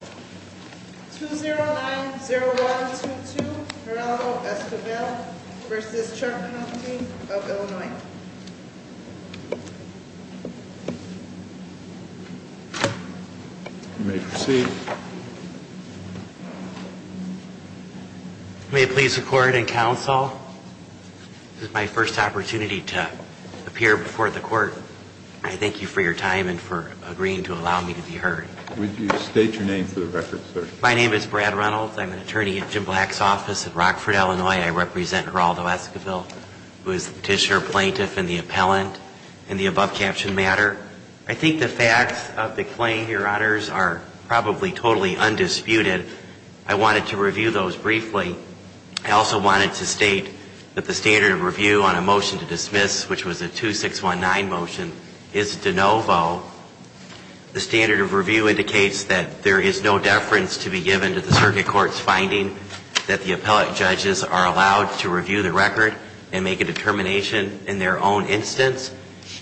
2090122 Ronaldo Esquivel v. Chuck Huffington of Illinois You may proceed. May it please the court and counsel, this is my first opportunity to appear before the court. I thank you for your time and for agreeing to allow me to be heard. Would you state your name for the record, sir? My name is Brad Reynolds. I'm an attorney at Jim Black's office in Rockford, Illinois. I represent Ronaldo Esquivel, who is the petitioner, plaintiff, and the appellant in the above-captioned matter. I think the facts of the claim, Your Honors, are probably totally undisputed. I wanted to review those briefly. I also wanted to state that the standard of review on a motion to dismiss, which was a 2619 motion, is de novo. The standard of review indicates that there is no deference to be given to the circuit court's finding that the appellate judges are allowed to review the record and make a determination in their own instance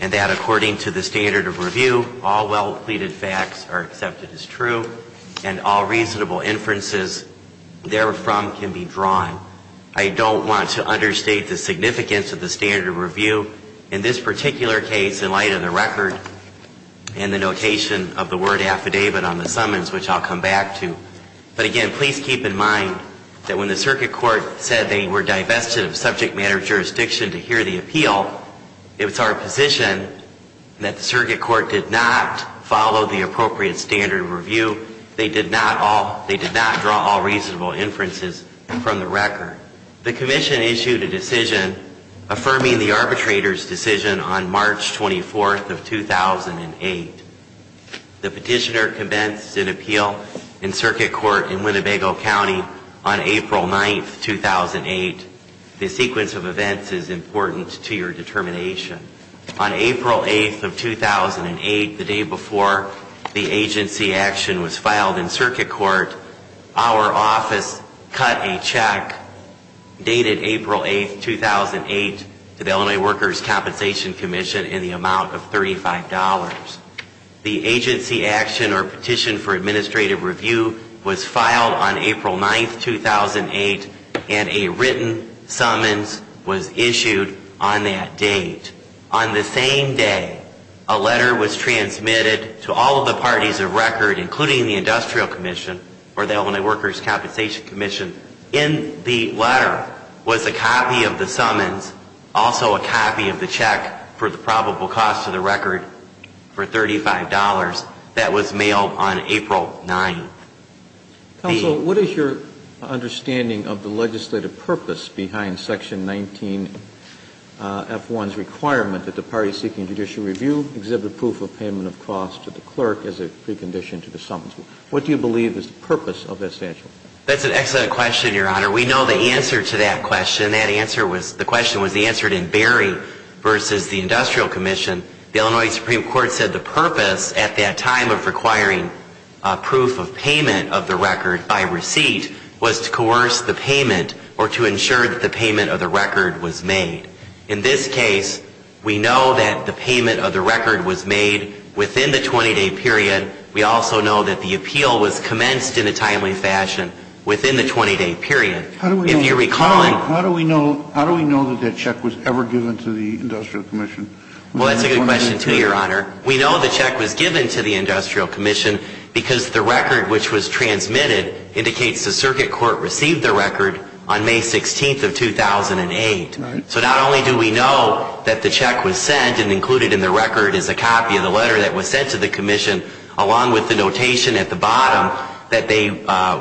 and that, according to the standard of review, all well-pleaded facts are accepted as true and all reasonable inferences therefrom can be drawn. I don't want to understate the significance of the standard of review in this particular case in light of the record and the notation of the word affidavit on the summons, which I'll come back to. But again, please keep in mind that when the circuit court said they were divested of subject matter jurisdiction to hear the appeal, it was our position that the circuit court did not follow the appropriate standard of review. They did not draw all reasonable inferences from the record. The commission issued a decision affirming the arbitrator's decision on March 24, 2008. The petitioner commenced an appeal in circuit court in Winnebago County on April 9, 2008. The sequence of events is important to your determination. On April 8, 2008, the day before the agency action was filed in circuit court, our office cut a check dated April 8, 2008, to the Illinois Workers' Compensation Commission in the amount of $35. The agency action or petition for administrative review was filed on April 9, 2008, and a written summons was issued on that date. On the same day, a letter was transmitted to all of the parties of record, including the Industrial Commission or the Illinois Workers' Compensation Commission. In the letter was a copy of the summons, also a copy of the check for the probable cost to the record for $35, that was mailed on April 9. Counsel, what is your understanding of the legislative purpose behind Section 19F1's requirement that the parties seeking judicial review exhibit proof of payment of cost to the clerk as a precondition to the summons? What do you believe is the purpose of that statute? That's an excellent question, Your Honor. We know the answer to that question. The question was answered in Berry v. The Industrial Commission. The Illinois Supreme Court said the purpose at that time of requiring proof of payment of the record by receipt was to coerce the payment or to ensure that the payment of the record was made. In this case, we know that the payment of the record was made within the 20-day period. We also know that the appeal was commenced in a timely fashion within the 20-day period. How do we know that that check was ever given to the Industrial Commission? Well, that's a good question, too, Your Honor. We know the check was given to the Industrial Commission because the record which was transmitted indicates the circuit court received the record on May 16 of 2008. So not only do we know that the check was sent and included in the record is a copy of the letter that was sent to the Commission along with the notation at the bottom that they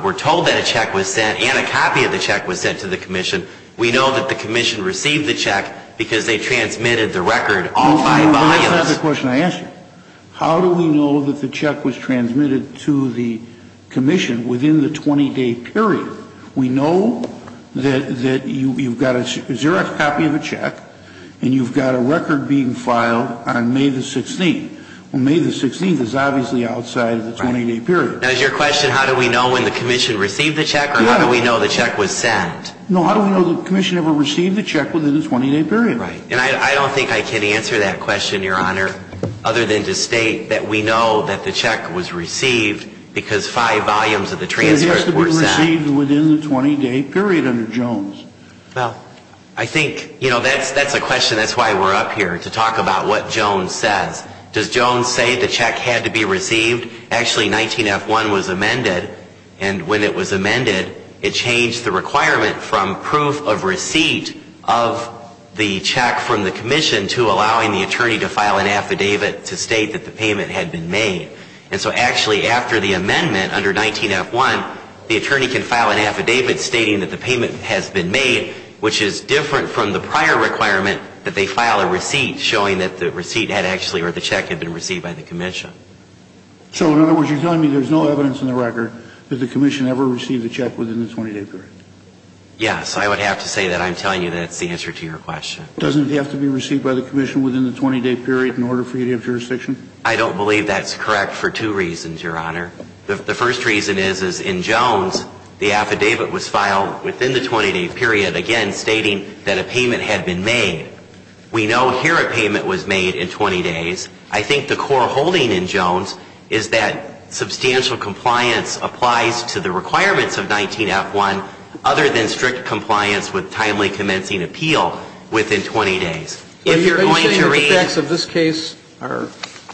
were told that a check was sent and a copy of the check was sent to the Commission. We know that the Commission received the check because they transmitted the record all five volumes. That's not the question I asked you. How do we know that the check was transmitted to the Commission within the 20-day period? We know that you've got a Xerox copy of a check and you've got a record being filed on May the 16th. Well, May the 16th is obviously outside of the 20-day period. Now is your question how do we know when the Commission received the check or how do we know the check was sent? No, how do we know the Commission ever received the check within the 20-day period? Right. And I don't think I can answer that question, Your Honor, other than to state that we know that the check was received because five volumes of the transfer report were sent. It has to be received within the 20-day period under Jones. Well, I think, you know, that's a question that's why we're up here, to talk about what Jones says. Does Jones say the check had to be received? Actually, 19F1 was amended, and when it was amended, it changed the requirement from proof of receipt of the check from the Commission to allowing the attorney to file an affidavit to state that the payment had been made. And so actually after the amendment under 19F1, the attorney can file an affidavit stating that the payment has been made, which is different from the prior requirement that they file a receipt showing that the receipt had actually or the check had been received by the Commission. So in other words, you're telling me there's no evidence in the record that the Commission ever received the check within the 20-day period? Yes. I would have to say that I'm telling you that's the answer to your question. Doesn't it have to be received by the Commission within the 20-day period in order for you to have jurisdiction? I don't believe that's correct for two reasons, Your Honor. The first reason is, is in Jones, the affidavit was filed within the 20-day period, again stating that a payment had been made. We know here a payment was made in 20 days. I think the core holding in Jones is that substantial compliance applies to the requirements of 19F1 other than strict compliance with timely commencing appeal within 20 days. Are you saying that the facts of this case are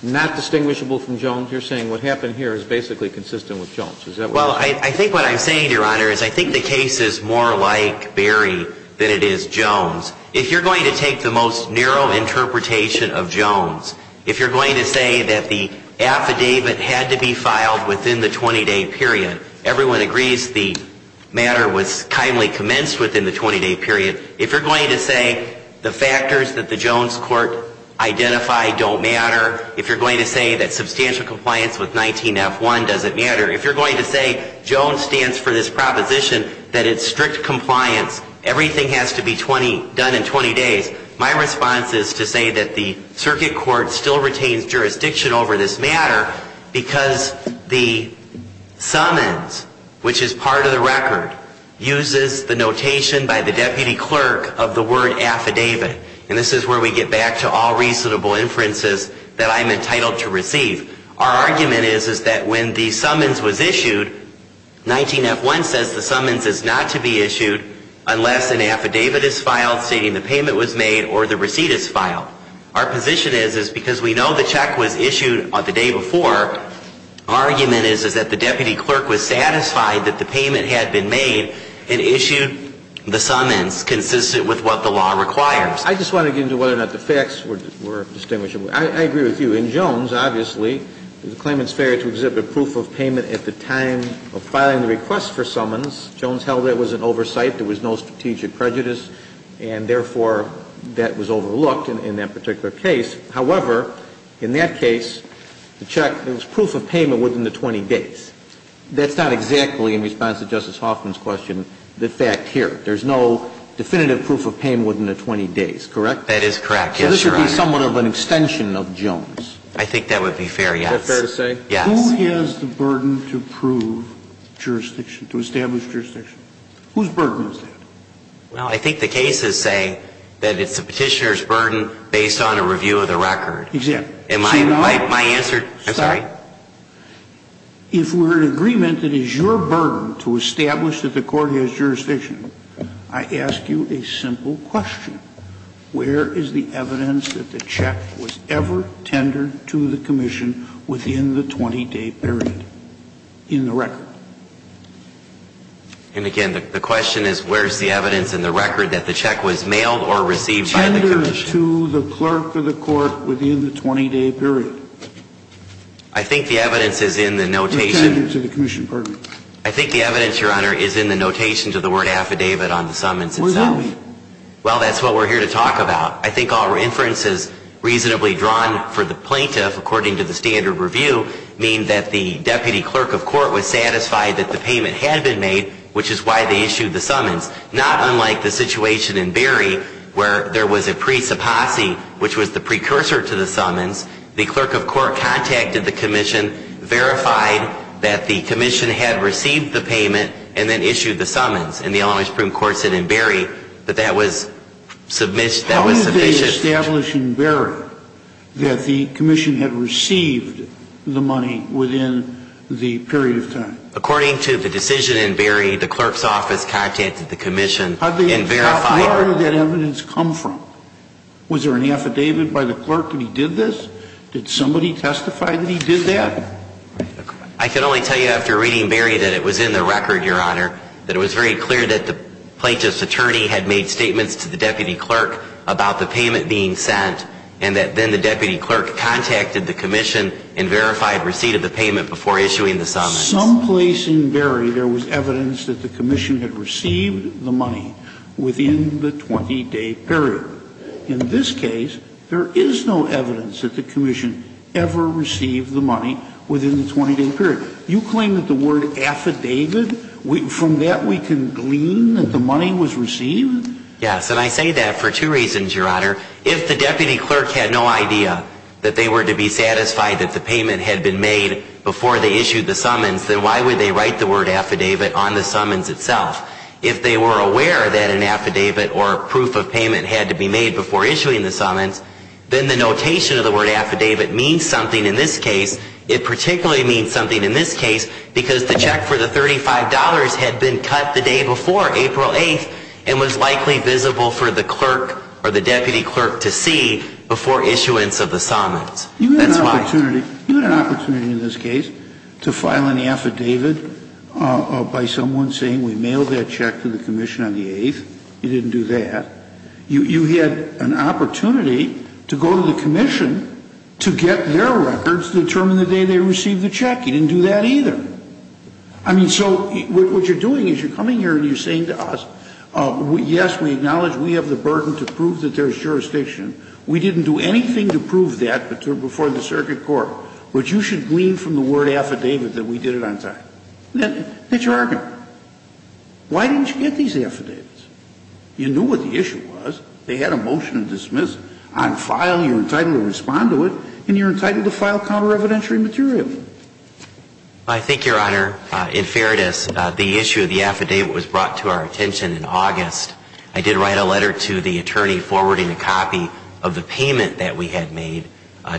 not distinguishable from Jones? You're saying what happened here is basically consistent with Jones. Is that what you're saying? Well, I think what I'm saying, Your Honor, is I think the case is more like Barry than it is Jones. If you're going to take the most narrow interpretation of Jones, if you're going to say that the affidavit had to be filed within the 20-day period, everyone agrees the matter was timely commenced within the 20-day period. If you're going to say the factors that the Jones court identified don't matter, if you're going to say that substantial compliance with 19F1 doesn't matter, if you're going to say Jones stands for this proposition that it's strict compliance, everything has to be done in 20 days, my response is to say that the circuit court still retains jurisdiction over this matter because the summons, which is part of the record, uses the notation by the deputy clerk of the word affidavit. And this is where we get back to all reasonable inferences that I'm entitled to receive. Our argument is that when the summons was issued, 19F1 says the summons is not to be issued unless an affidavit is filed stating the payment was made or the receipt is filed. Our position is because we know the check was issued the day before, our argument is that the deputy clerk was satisfied that the payment had been made and issued the summons consistent with what the law requires. I just want to get into whether or not the facts were distinguishable. I agree with you. In Jones, obviously, the claimant's failure to exhibit proof of payment at the time of filing the request for summons, Jones held that was an oversight, there was no strategic prejudice, and therefore, that was overlooked in that particular case. However, in that case, the check, there was proof of payment within the 20 days. That's not exactly, in response to Justice Hoffman's question, the fact here. There's no definitive proof of payment within the 20 days, correct? That is correct, yes, Your Honor. So this would be somewhat of an extension of Jones. I think that would be fair, yes. Is that fair to say? Yes. Who has the burden to prove jurisdiction, to establish jurisdiction? Whose burden is that? Well, I think the case is saying that it's the Petitioner's burden based on a review of the record. Exactly. My answer, I'm sorry? If we're in agreement, it is your burden to establish that the court has jurisdiction. I ask you a simple question. Where is the evidence that the check was ever tendered to the commission within the 20-day period in the record? And again, the question is where is the evidence in the record that the check was mailed or received by the commission? Tendered to the clerk of the court within the 20-day period. I think the evidence is in the notation. Tendered to the commission. Pardon me. I think the evidence, Your Honor, is in the notation to the word affidavit on the summons itself. Where is that? Well, that's what we're here to talk about. I think all references reasonably drawn for the plaintiff, according to the standard review, mean that the deputy clerk of court was satisfied that the payment had been made, which is why they issued the summons. Not unlike the situation in Berry where there was a presuppossee, which was the precursor to the summons, the clerk of court contacted the commission, verified that the commission had received the payment, and then issued the summons. And the Alamo Supreme Court said in Berry that that was sufficient. How did they establish in Berry that the commission had received the money within the period of time? According to the decision in Berry, the clerk's office contacted the commission and verified. Where did that evidence come from? Was there an affidavit by the clerk that he did this? Did somebody testify that he did that? I can only tell you after reading Berry that it was in the record, Your Honor, that it was very clear that the plaintiff's attorney had made statements to the deputy clerk about the payment being sent, and that then the deputy clerk contacted the commission and verified receipt of the payment before issuing the summons. Someplace in Berry there was evidence that the commission had received the money within the 20-day period. In this case, there is no evidence that the commission ever received the money within the 20-day period. Your Honor, you claim that the word affidavit, from that we can glean that the money was received? Yes. And I say that for two reasons, Your Honor. If the deputy clerk had no idea that they were to be satisfied that the payment had been made before they issued the summons, then why would they write the word affidavit on the summons itself? If they were aware that an affidavit or proof of payment had to be made before issuing the summons, then the notation of the word affidavit means something in this case. It particularly means something in this case because the check for the $35 had been cut the day before, April 8th, and was likely visible for the clerk or the deputy clerk to see before issuance of the summons. That's why. You had an opportunity in this case to file an affidavit by someone saying we mailed that check to the commission on the 8th. You didn't do that. You had an opportunity to go to the commission to get their records to determine the day they received the check. You didn't do that either. I mean, so what you are doing is you are coming here and you are saying to us, yes, we acknowledge we have the burden to prove that there is jurisdiction. We didn't do anything to prove that before the circuit court, but you should glean from the word affidavit that we did it on time. That's your argument. Why didn't you get these affidavits? You knew what the issue was. They had a motion to dismiss. On file, you are entitled to respond to it, and you are entitled to file counter-revidentiary material. I think, Your Honor, in fairness, the issue of the affidavit was brought to our attention in August. I did write a letter to the attorney forwarding a copy of the payment that we had made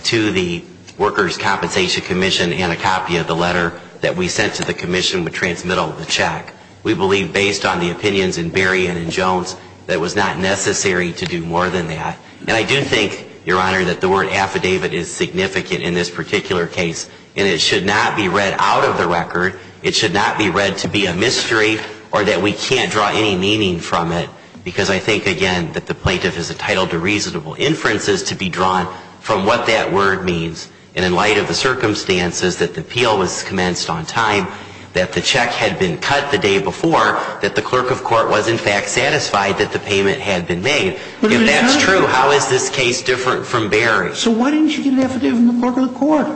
to the Workers' Compensation Commission, and a copy of the letter that we sent to the commission would transmittal the check. We believe, based on the opinions in Berry and in Jones, that it was not necessary to do more than that. And I do think, Your Honor, that the word affidavit is significant in this particular case, and it should not be read out of the record. It should not be read to be a mystery or that we can't draw any meaning from it, because I think, again, that the plaintiff is entitled to reasonable inferences to be drawn from what that word means. And in light of the circumstances that the appeal was commenced on time, that the check had been cut the day before, that the clerk of court was, in fact, satisfied that the payment had been made. If that's true, how is this case different from Berry? So why didn't you get an affidavit from the clerk of the court?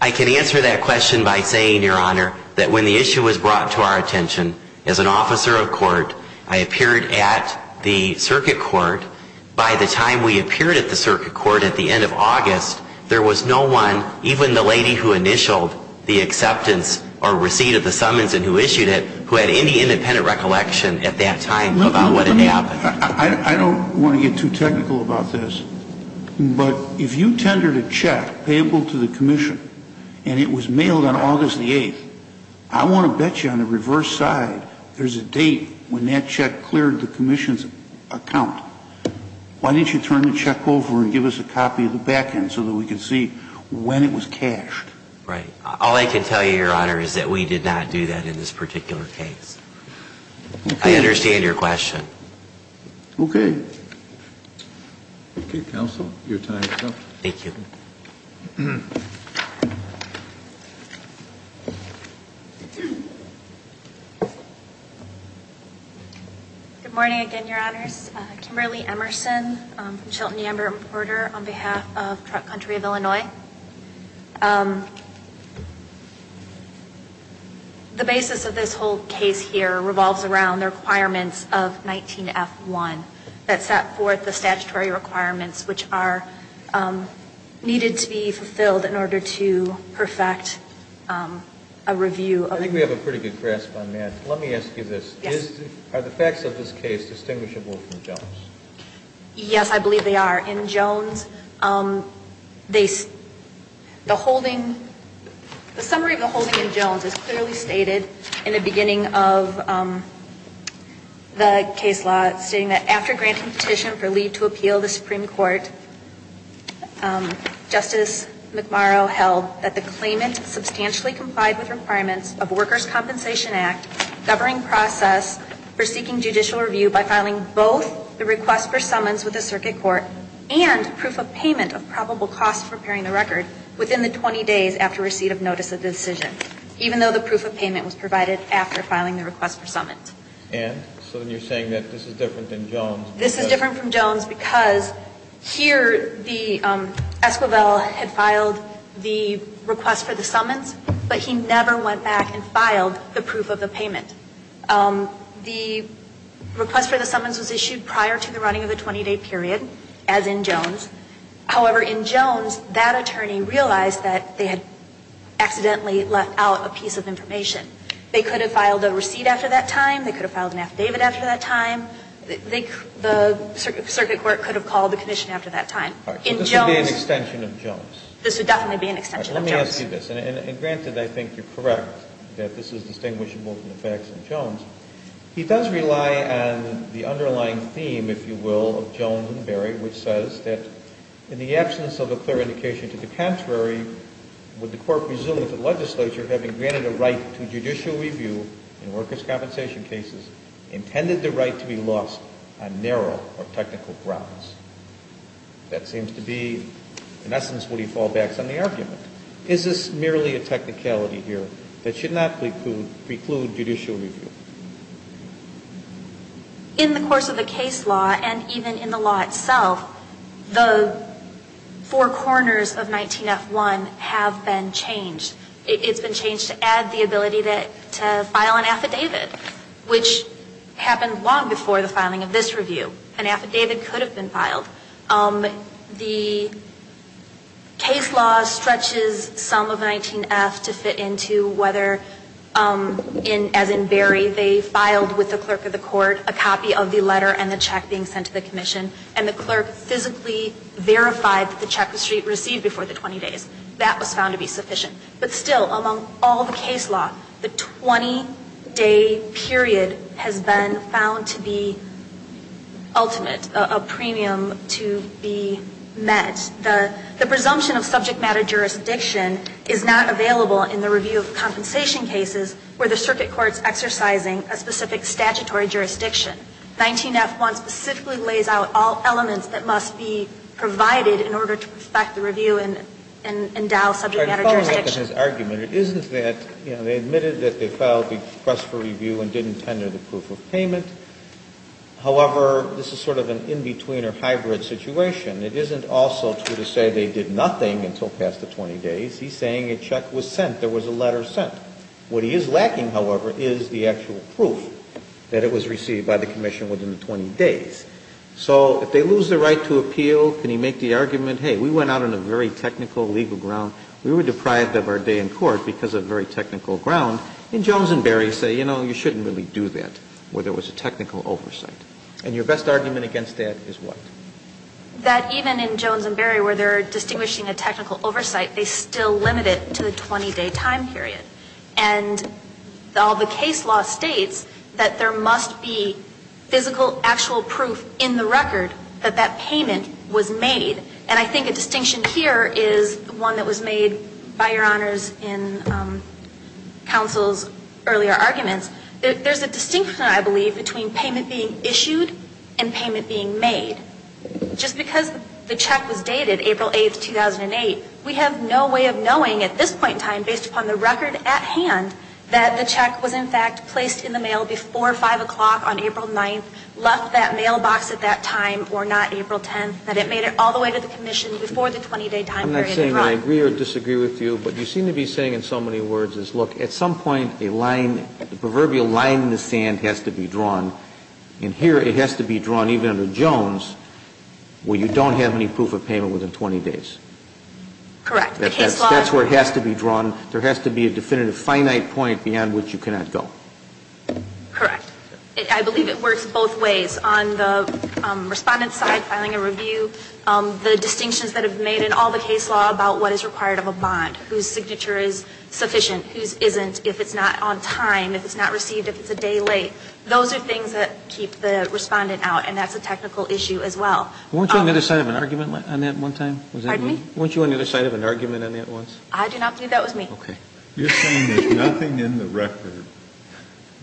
I can answer that question by saying, Your Honor, that when the issue was brought to our attention as an officer of court, I appeared at the circuit court. By the time we appeared at the circuit court at the end of August, there was no one, even the lady who initialed the acceptance or receipt of the summons and who issued it, who had any independent recollection at that time about what had happened. I don't want to get too technical about this, but if you tendered a check payable to the commission and it was mailed on August the 8th, I want to bet you on the reverse side there's a date when that check cleared the commission's account. Why didn't you turn the check over and give us a copy of the back end so that we could see when it was cashed? Right. All I can tell you, Your Honor, is that we did not do that in this particular case. I understand your question. Okay. Okay, counsel, your time is up. Thank you. Good morning again, Your Honors. Kimberly Emerson from Chilton Yambert and Porter on behalf of Trump Country of Illinois. The basis of this whole case here revolves around the requirements of 19F1 that set forth the statutory requirements, which are needed to be fulfilled in order to perfect a review. I think we have a pretty good grasp on that. Let me ask you this. Yes. Are the facts of this case distinguishable from Jones? Yes, I believe they are. The summary of the holding in Jones is clearly stated in the beginning of the case law stating that after granting petition for leave to appeal the Supreme Court, Justice McMurrow held that the claimant substantially complied with requirements of Workers' Compensation Act governing process for seeking judicial review by filing both the request for summons with the circuit court and proof of payment of probable cost for preparing the record within the 20 days after receipt of notice of the decision, even though the proof of payment was provided after filing the request for summons. And so then you're saying that this is different than Jones? This is different from Jones because here Esquivel had filed the request for the summons, but he never went back and filed the proof of the payment. The request for the summons was issued prior to the running of the 20-day period as in Jones. However, in Jones, that attorney realized that they had accidentally let out a piece of information. They could have filed a receipt after that time. They could have filed an affidavit after that time. The circuit court could have called the commission after that time. All right. So this would be an extension of Jones? This would definitely be an extension of Jones. All right. Let me ask you this. And granted, I think you're correct that this is distinguishable from the facts in Jones. He does rely on the underlying theme, if you will, of Jones and Barry, which says that in the absence of a clear indication to the contrary, would the court presume that the legislature, having granted a right to judicial review in workers' compensation cases, intended the right to be lost on narrow or technical grounds? That seems to be, in essence, would he fall back on the argument? Is this merely a technicality here that should not preclude judicial review? In the course of the case law, and even in the law itself, the four corners of 19F1 have been changed. It's been changed to add the ability to file an affidavit, which happened long before the filing of this review. An affidavit could have been filed. The case law stretches some of 19F to fit into whether, as in Barry, they filed with the clerk of the court a copy of the letter and the check being sent to the commission, and the clerk physically verified that the check was received before the 20 days. That was found to be sufficient. But still, among all the case law, the 20-day period has been found to be ultimate, a premium to be met. The presumption of subject matter jurisdiction is not available in the review of compensation cases where the circuit court is exercising a specific statutory jurisdiction. 19F1 specifically lays out all elements that must be provided in order to perfect the review and endow subject matter jurisdiction. Kennedy. It falls back on his argument. It isn't that, you know, they admitted that they filed the request for review and didn't tender the proof of payment. However, this is sort of an in-between or hybrid situation. It isn't also true to say they did nothing until past the 20 days. He's saying a check was sent, there was a letter sent. What he is lacking, however, is the actual proof that it was received by the commission within the 20 days. So if they lose the right to appeal, can he make the argument, hey, we went out on a very technical legal ground, we were deprived of our day in court because of very technical ground, and Jones and Barry say, you know, you shouldn't really do that where there was a technical oversight. And your best argument against that is what? That even in Jones and Barry where they are distinguishing a technical oversight, they still limit it to a 20-day time period. And all the case law states that there must be physical, actual proof in the record that that payment was made. And I think a distinction here is one that was made by Your Honors in counsel's earlier arguments. There's a distinction, I believe, between payment being issued and payment being made. Just because the check was dated April 8th, 2008, we have no way of knowing at this point in time, based upon the record at hand, that the check was in fact placed in the mail before 5 o'clock on April 9th, left that mailbox at that time, or not April 10th, that it made it all the way to the commission before the 20-day time period. I'm not saying I agree or disagree with you, but you seem to be saying in so many has to be drawn. And here it has to be drawn even under Jones where you don't have any proof of payment within 20 days. Correct. The case law. That's where it has to be drawn. There has to be a definitive finite point beyond which you cannot go. Correct. I believe it works both ways. On the Respondent's side, filing a review, the distinctions that have been made in all the case law about what is required of a bond, whose signature is sufficient, whose isn't, if it's not on time, if it's not received, if it's a day late, those are things that keep the Respondent out, and that's a technical issue as well. Weren't you on the other side of an argument on that one time? Pardon me? Weren't you on the other side of an argument on that once? I do not believe that was me. Okay. You're saying there's nothing in the record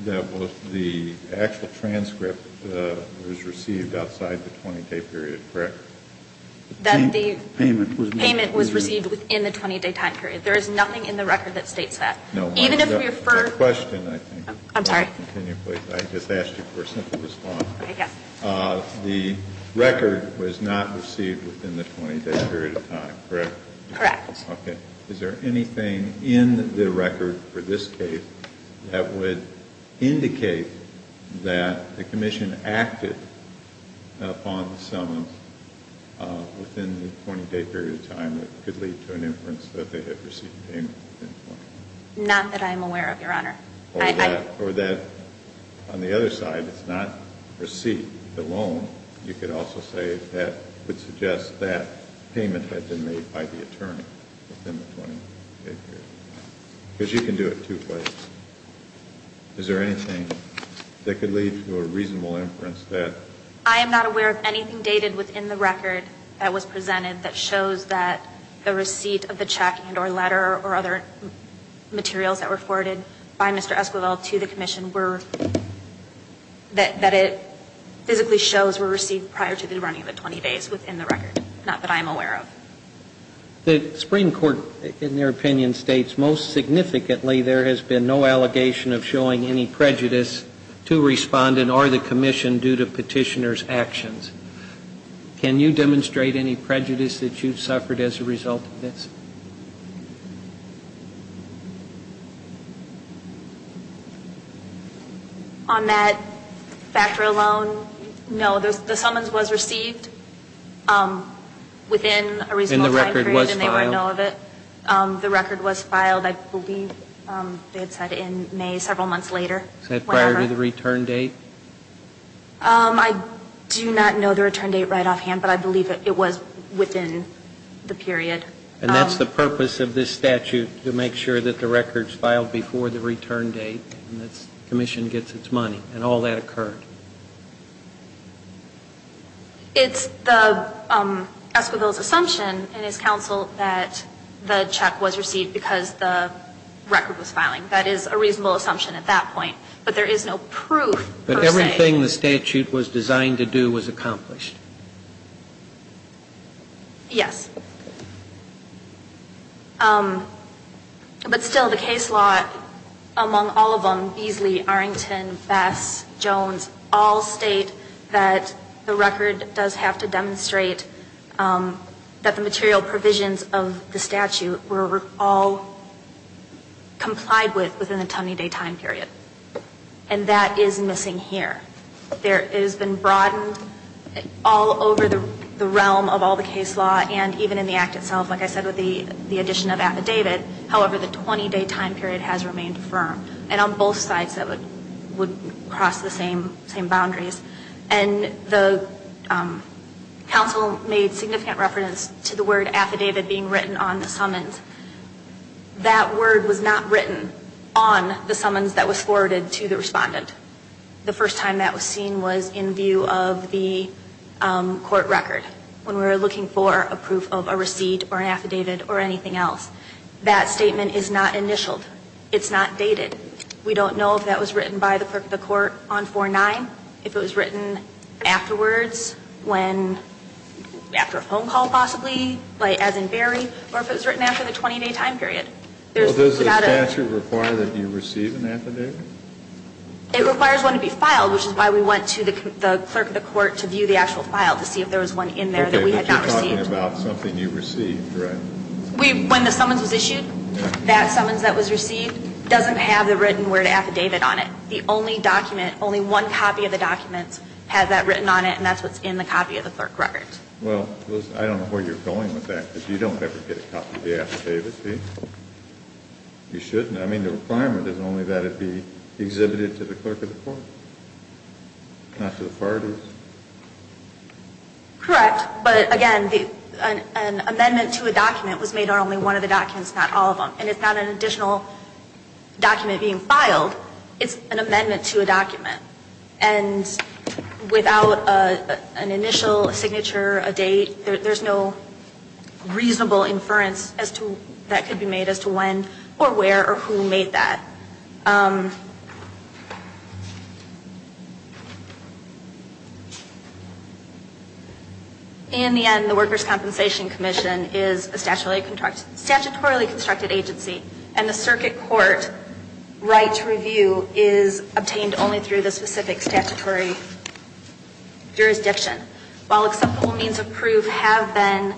that was the actual transcript was received outside the 20-day period, correct? That the payment was received within the 20-day time period. There is nothing in the record that states that. No. Even if we refer. It's a question, I think. I'm sorry. I just asked you for a simple response. I guess. The record was not received within the 20-day period of time, correct? Correct. Okay. Is there anything in the record for this case that would indicate that the commission acted upon the summons within the 20-day period of time that could lead to an inference that they had received payment within the 20-day period of time? Not that I'm aware of, Your Honor. Or that on the other side, it's not receipt alone. You could also say that would suggest that payment had been made by the attorney within the 20-day period of time. Because you can do it two ways. Is there anything that could lead to a reasonable inference that... I am not aware of anything dated within the record that was presented that shows that the receipt of the check and or letter or other materials that were forwarded by Mr. Esquivel to the commission were, that it physically shows were received prior to the running of the 20 days within the record. Not that I am aware of. The Supreme Court, in their opinion, states most significantly there has been no allegation of showing any prejudice to respondent or the commission due to petitioner's actions. Can you demonstrate any prejudice that you've suffered as a result of this? On that factor alone, no. The summons was received within a reasonable time period. And the record was filed? And they would know of it. The record was filed, I believe they had said in May, several months later. Set prior to the return date? I do not know the return date right offhand, but I believe it was within the period. And that's the purpose of this statute, to make sure that the record is filed before the return date and the commission gets its money. And all that occurred? It's the Esquivel's assumption in his counsel that the check was received because the record was filing. That is a reasonable assumption at that point. But there is no proof per se. But everything the statute was designed to do was accomplished? Yes. But still, the case law, among all of them, Beasley, Arrington, Bass, Jones, all state that the record does have to demonstrate that the material provisions of the statute were all complied with within a 20-day time period. And that is missing here. It has been broadened all over the realm of all the case law, and even in the act itself, like I said with the addition of affidavit, however, the 20-day time period has remained firm. And on both sides, that would cross the same boundaries. And the counsel made significant reference to the word affidavit being written on the summons. That word was not written on the summons that was forwarded to the respondent. The first time that was seen was in view of the court record when we were looking for a proof of a receipt or an affidavit or anything else. That statement is not initialed. It's not dated. We don't know if that was written by the clerk of the court on 4-9, if it was written afterwards, when, after a phone call possibly, as in Barry, or if it was written in the 20-day time period. Well, does the statute require that you receive an affidavit? It requires one to be filed, which is why we went to the clerk of the court to view the actual file to see if there was one in there that we had not received. Okay, but you're talking about something you received, right? When the summons was issued, that summons that was received doesn't have the written word affidavit on it. The only document, only one copy of the documents has that written on it, and that's what's in the copy of the clerk record. Well, I don't know where you're going with that, because you don't ever get a copy of the affidavit, do you? You shouldn't. I mean, the requirement is only that it be exhibited to the clerk of the court, not to the parties. Correct. But, again, an amendment to a document was made on only one of the documents, not all of them. It's an amendment to a document. And without an initial signature, a date, there's no reasonable inference that could be made as to when or where or who made that. In the end, the Workers' Compensation Commission is a statutorily constructed agency, and the circuit court right to review is obtained only through the specific statutory jurisdiction. While acceptable means of proof have been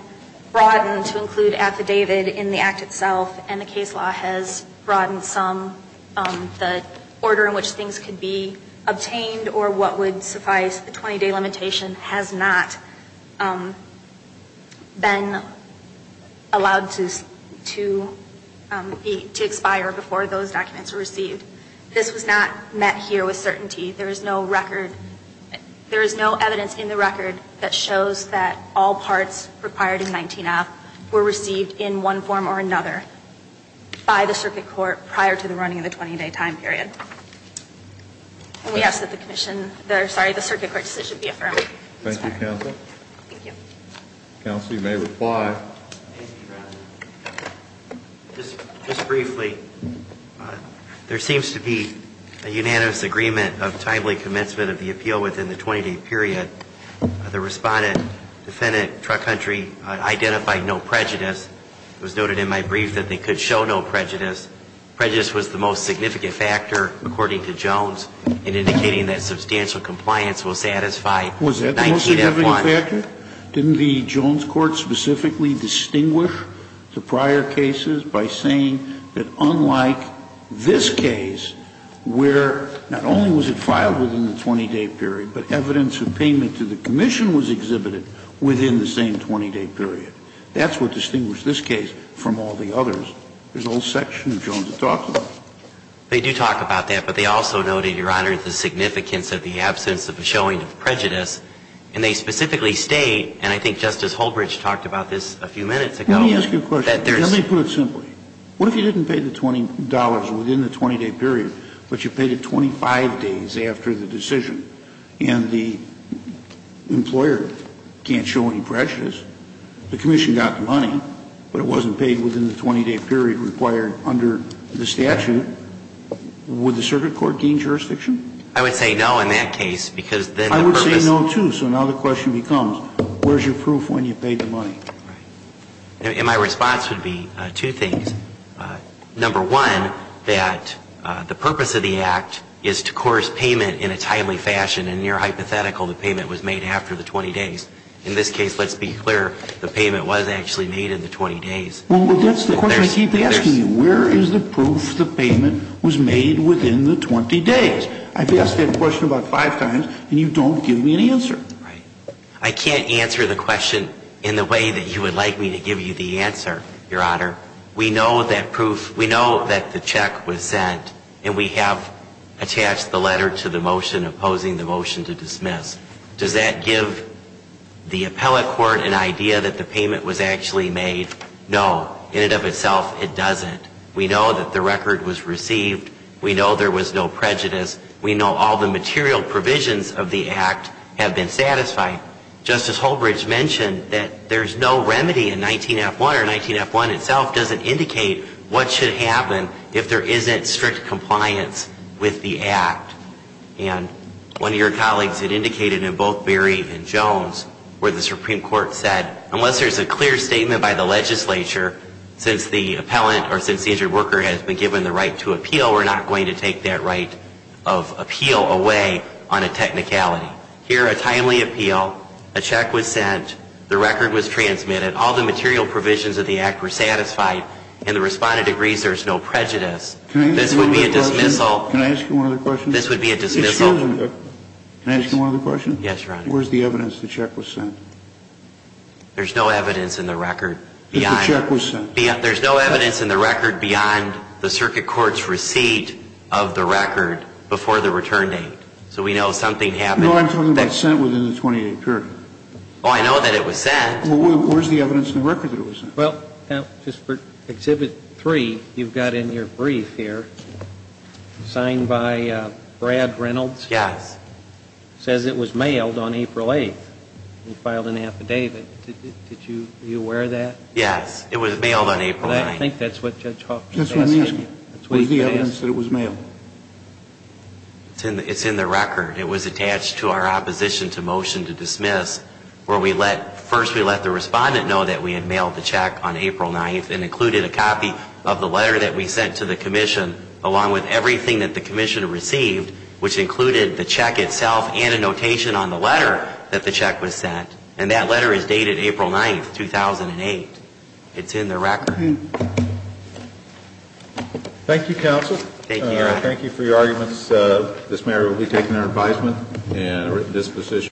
broadened to include affidavit in the act itself, and the case law has broadened some, the order in which things could be obtained or what would suffice the 20-day limitation has not been allowed to expire before those documents are received. This was not met here with certainty. There is no record. There is no evidence in the record that shows that all parts required in 19-F were received in one form or another by the circuit court prior to the running of the 20-day time period. And we ask that the circuit court decision be affirmed. Thank you, counsel. Thank you. Counsel, you may reply. Just briefly, there seems to be a unanimous agreement of timely commencement of the appeal within the 20-day period. The Respondent, Defendant, Truck Country identified no prejudice. It was noted in my brief that they could show no prejudice. Prejudice was the most significant factor, according to Jones, in indicating that substantial compliance will satisfy 19-F1. Was that the most significant factor? Didn't the Jones court specifically distinguish the prior cases by saying that unlike this case where not only was it filed within the 20-day period, but evidence of payment to the commission was exhibited within the same 20-day period? That's what distinguished this case from all the others. There's a whole section of Jones that talks about it. They do talk about that, but they also noted, Your Honor, the significance of the absence of a showing of prejudice. And they specifically state, and I think Justice Holbridge talked about this a few minutes ago, that there's Let me ask you a question. Let me put it simply. What if you didn't pay the $20 within the 20-day period, but you paid it 25 days after the decision, and the employer can't show any prejudice? The commission got the money, but it wasn't paid within the 20-day period required under the statute. Would the circuit court gain jurisdiction? I would say no in that case, because then the purpose I would say no, too. So now the question becomes, where's your proof when you paid the money? Right. And my response would be two things. Number one, that the purpose of the act is to course payment in a timely fashion and near hypothetical the payment was made after the 20 days. In this case, let's be clear, the payment was actually made in the 20 days. Well, that's the question I keep asking you. Where is the proof the payment was made within the 20 days? I've asked that question about five times, and you don't give me an answer. Right. I can't answer the question in the way that you would like me to give you the answer, Your Honor. We know that the check was sent, and we have attached the letter to the motion opposing the motion to dismiss. Does that give the appellate court an idea that the payment was actually made? No. In and of itself, it doesn't. We know that the record was received. We know there was no prejudice. We know all the material provisions of the act have been satisfied. Justice Holbridge mentioned that there's no remedy in 19F1, or 19F1 itself doesn't indicate what should happen if there isn't strict compliance with the act. And one of your colleagues had indicated in both Berry and Jones where the Supreme Court said unless there's a clear statement by the legislature or since the injured worker has been given the right to appeal, we're not going to take that right of appeal away on a technicality. Here, a timely appeal, a check was sent, the record was transmitted, all the material provisions of the act were satisfied, and the respondent agrees there's no prejudice. This would be a dismissal. Can I ask you one other question? This would be a dismissal. Excuse me. Can I ask you one other question? Where's the evidence the check was sent? There's no evidence in the record. If the check was sent. There's no evidence in the record beyond the circuit court's receipt of the record before the return date. So we know something happened. No, I'm talking about sent within the 28th period. Oh, I know that it was sent. Well, where's the evidence in the record that it was sent? Well, just for Exhibit 3, you've got in your brief here, signed by Brad Reynolds. Yes. Says it was mailed on April 8th. He filed an affidavit. Are you aware of that? Yes. It was mailed on April 9th. I think that's what Judge Hoffman is asking. That's what he's asking. Where's the evidence that it was mailed? It's in the record. It was attached to our opposition to motion to dismiss where first we let the respondent know that we had mailed the check on April 9th and included a copy of the letter that we sent to the commission along with everything that the commission received, which included the check itself and a notation on the letter that the check was sent. And that letter is dated April 9th, 2008. It's in the record. Thank you, counsel. Thank you, Your Honor. Thank you for your arguments. This mayor will be taking our advisement in a written disposition.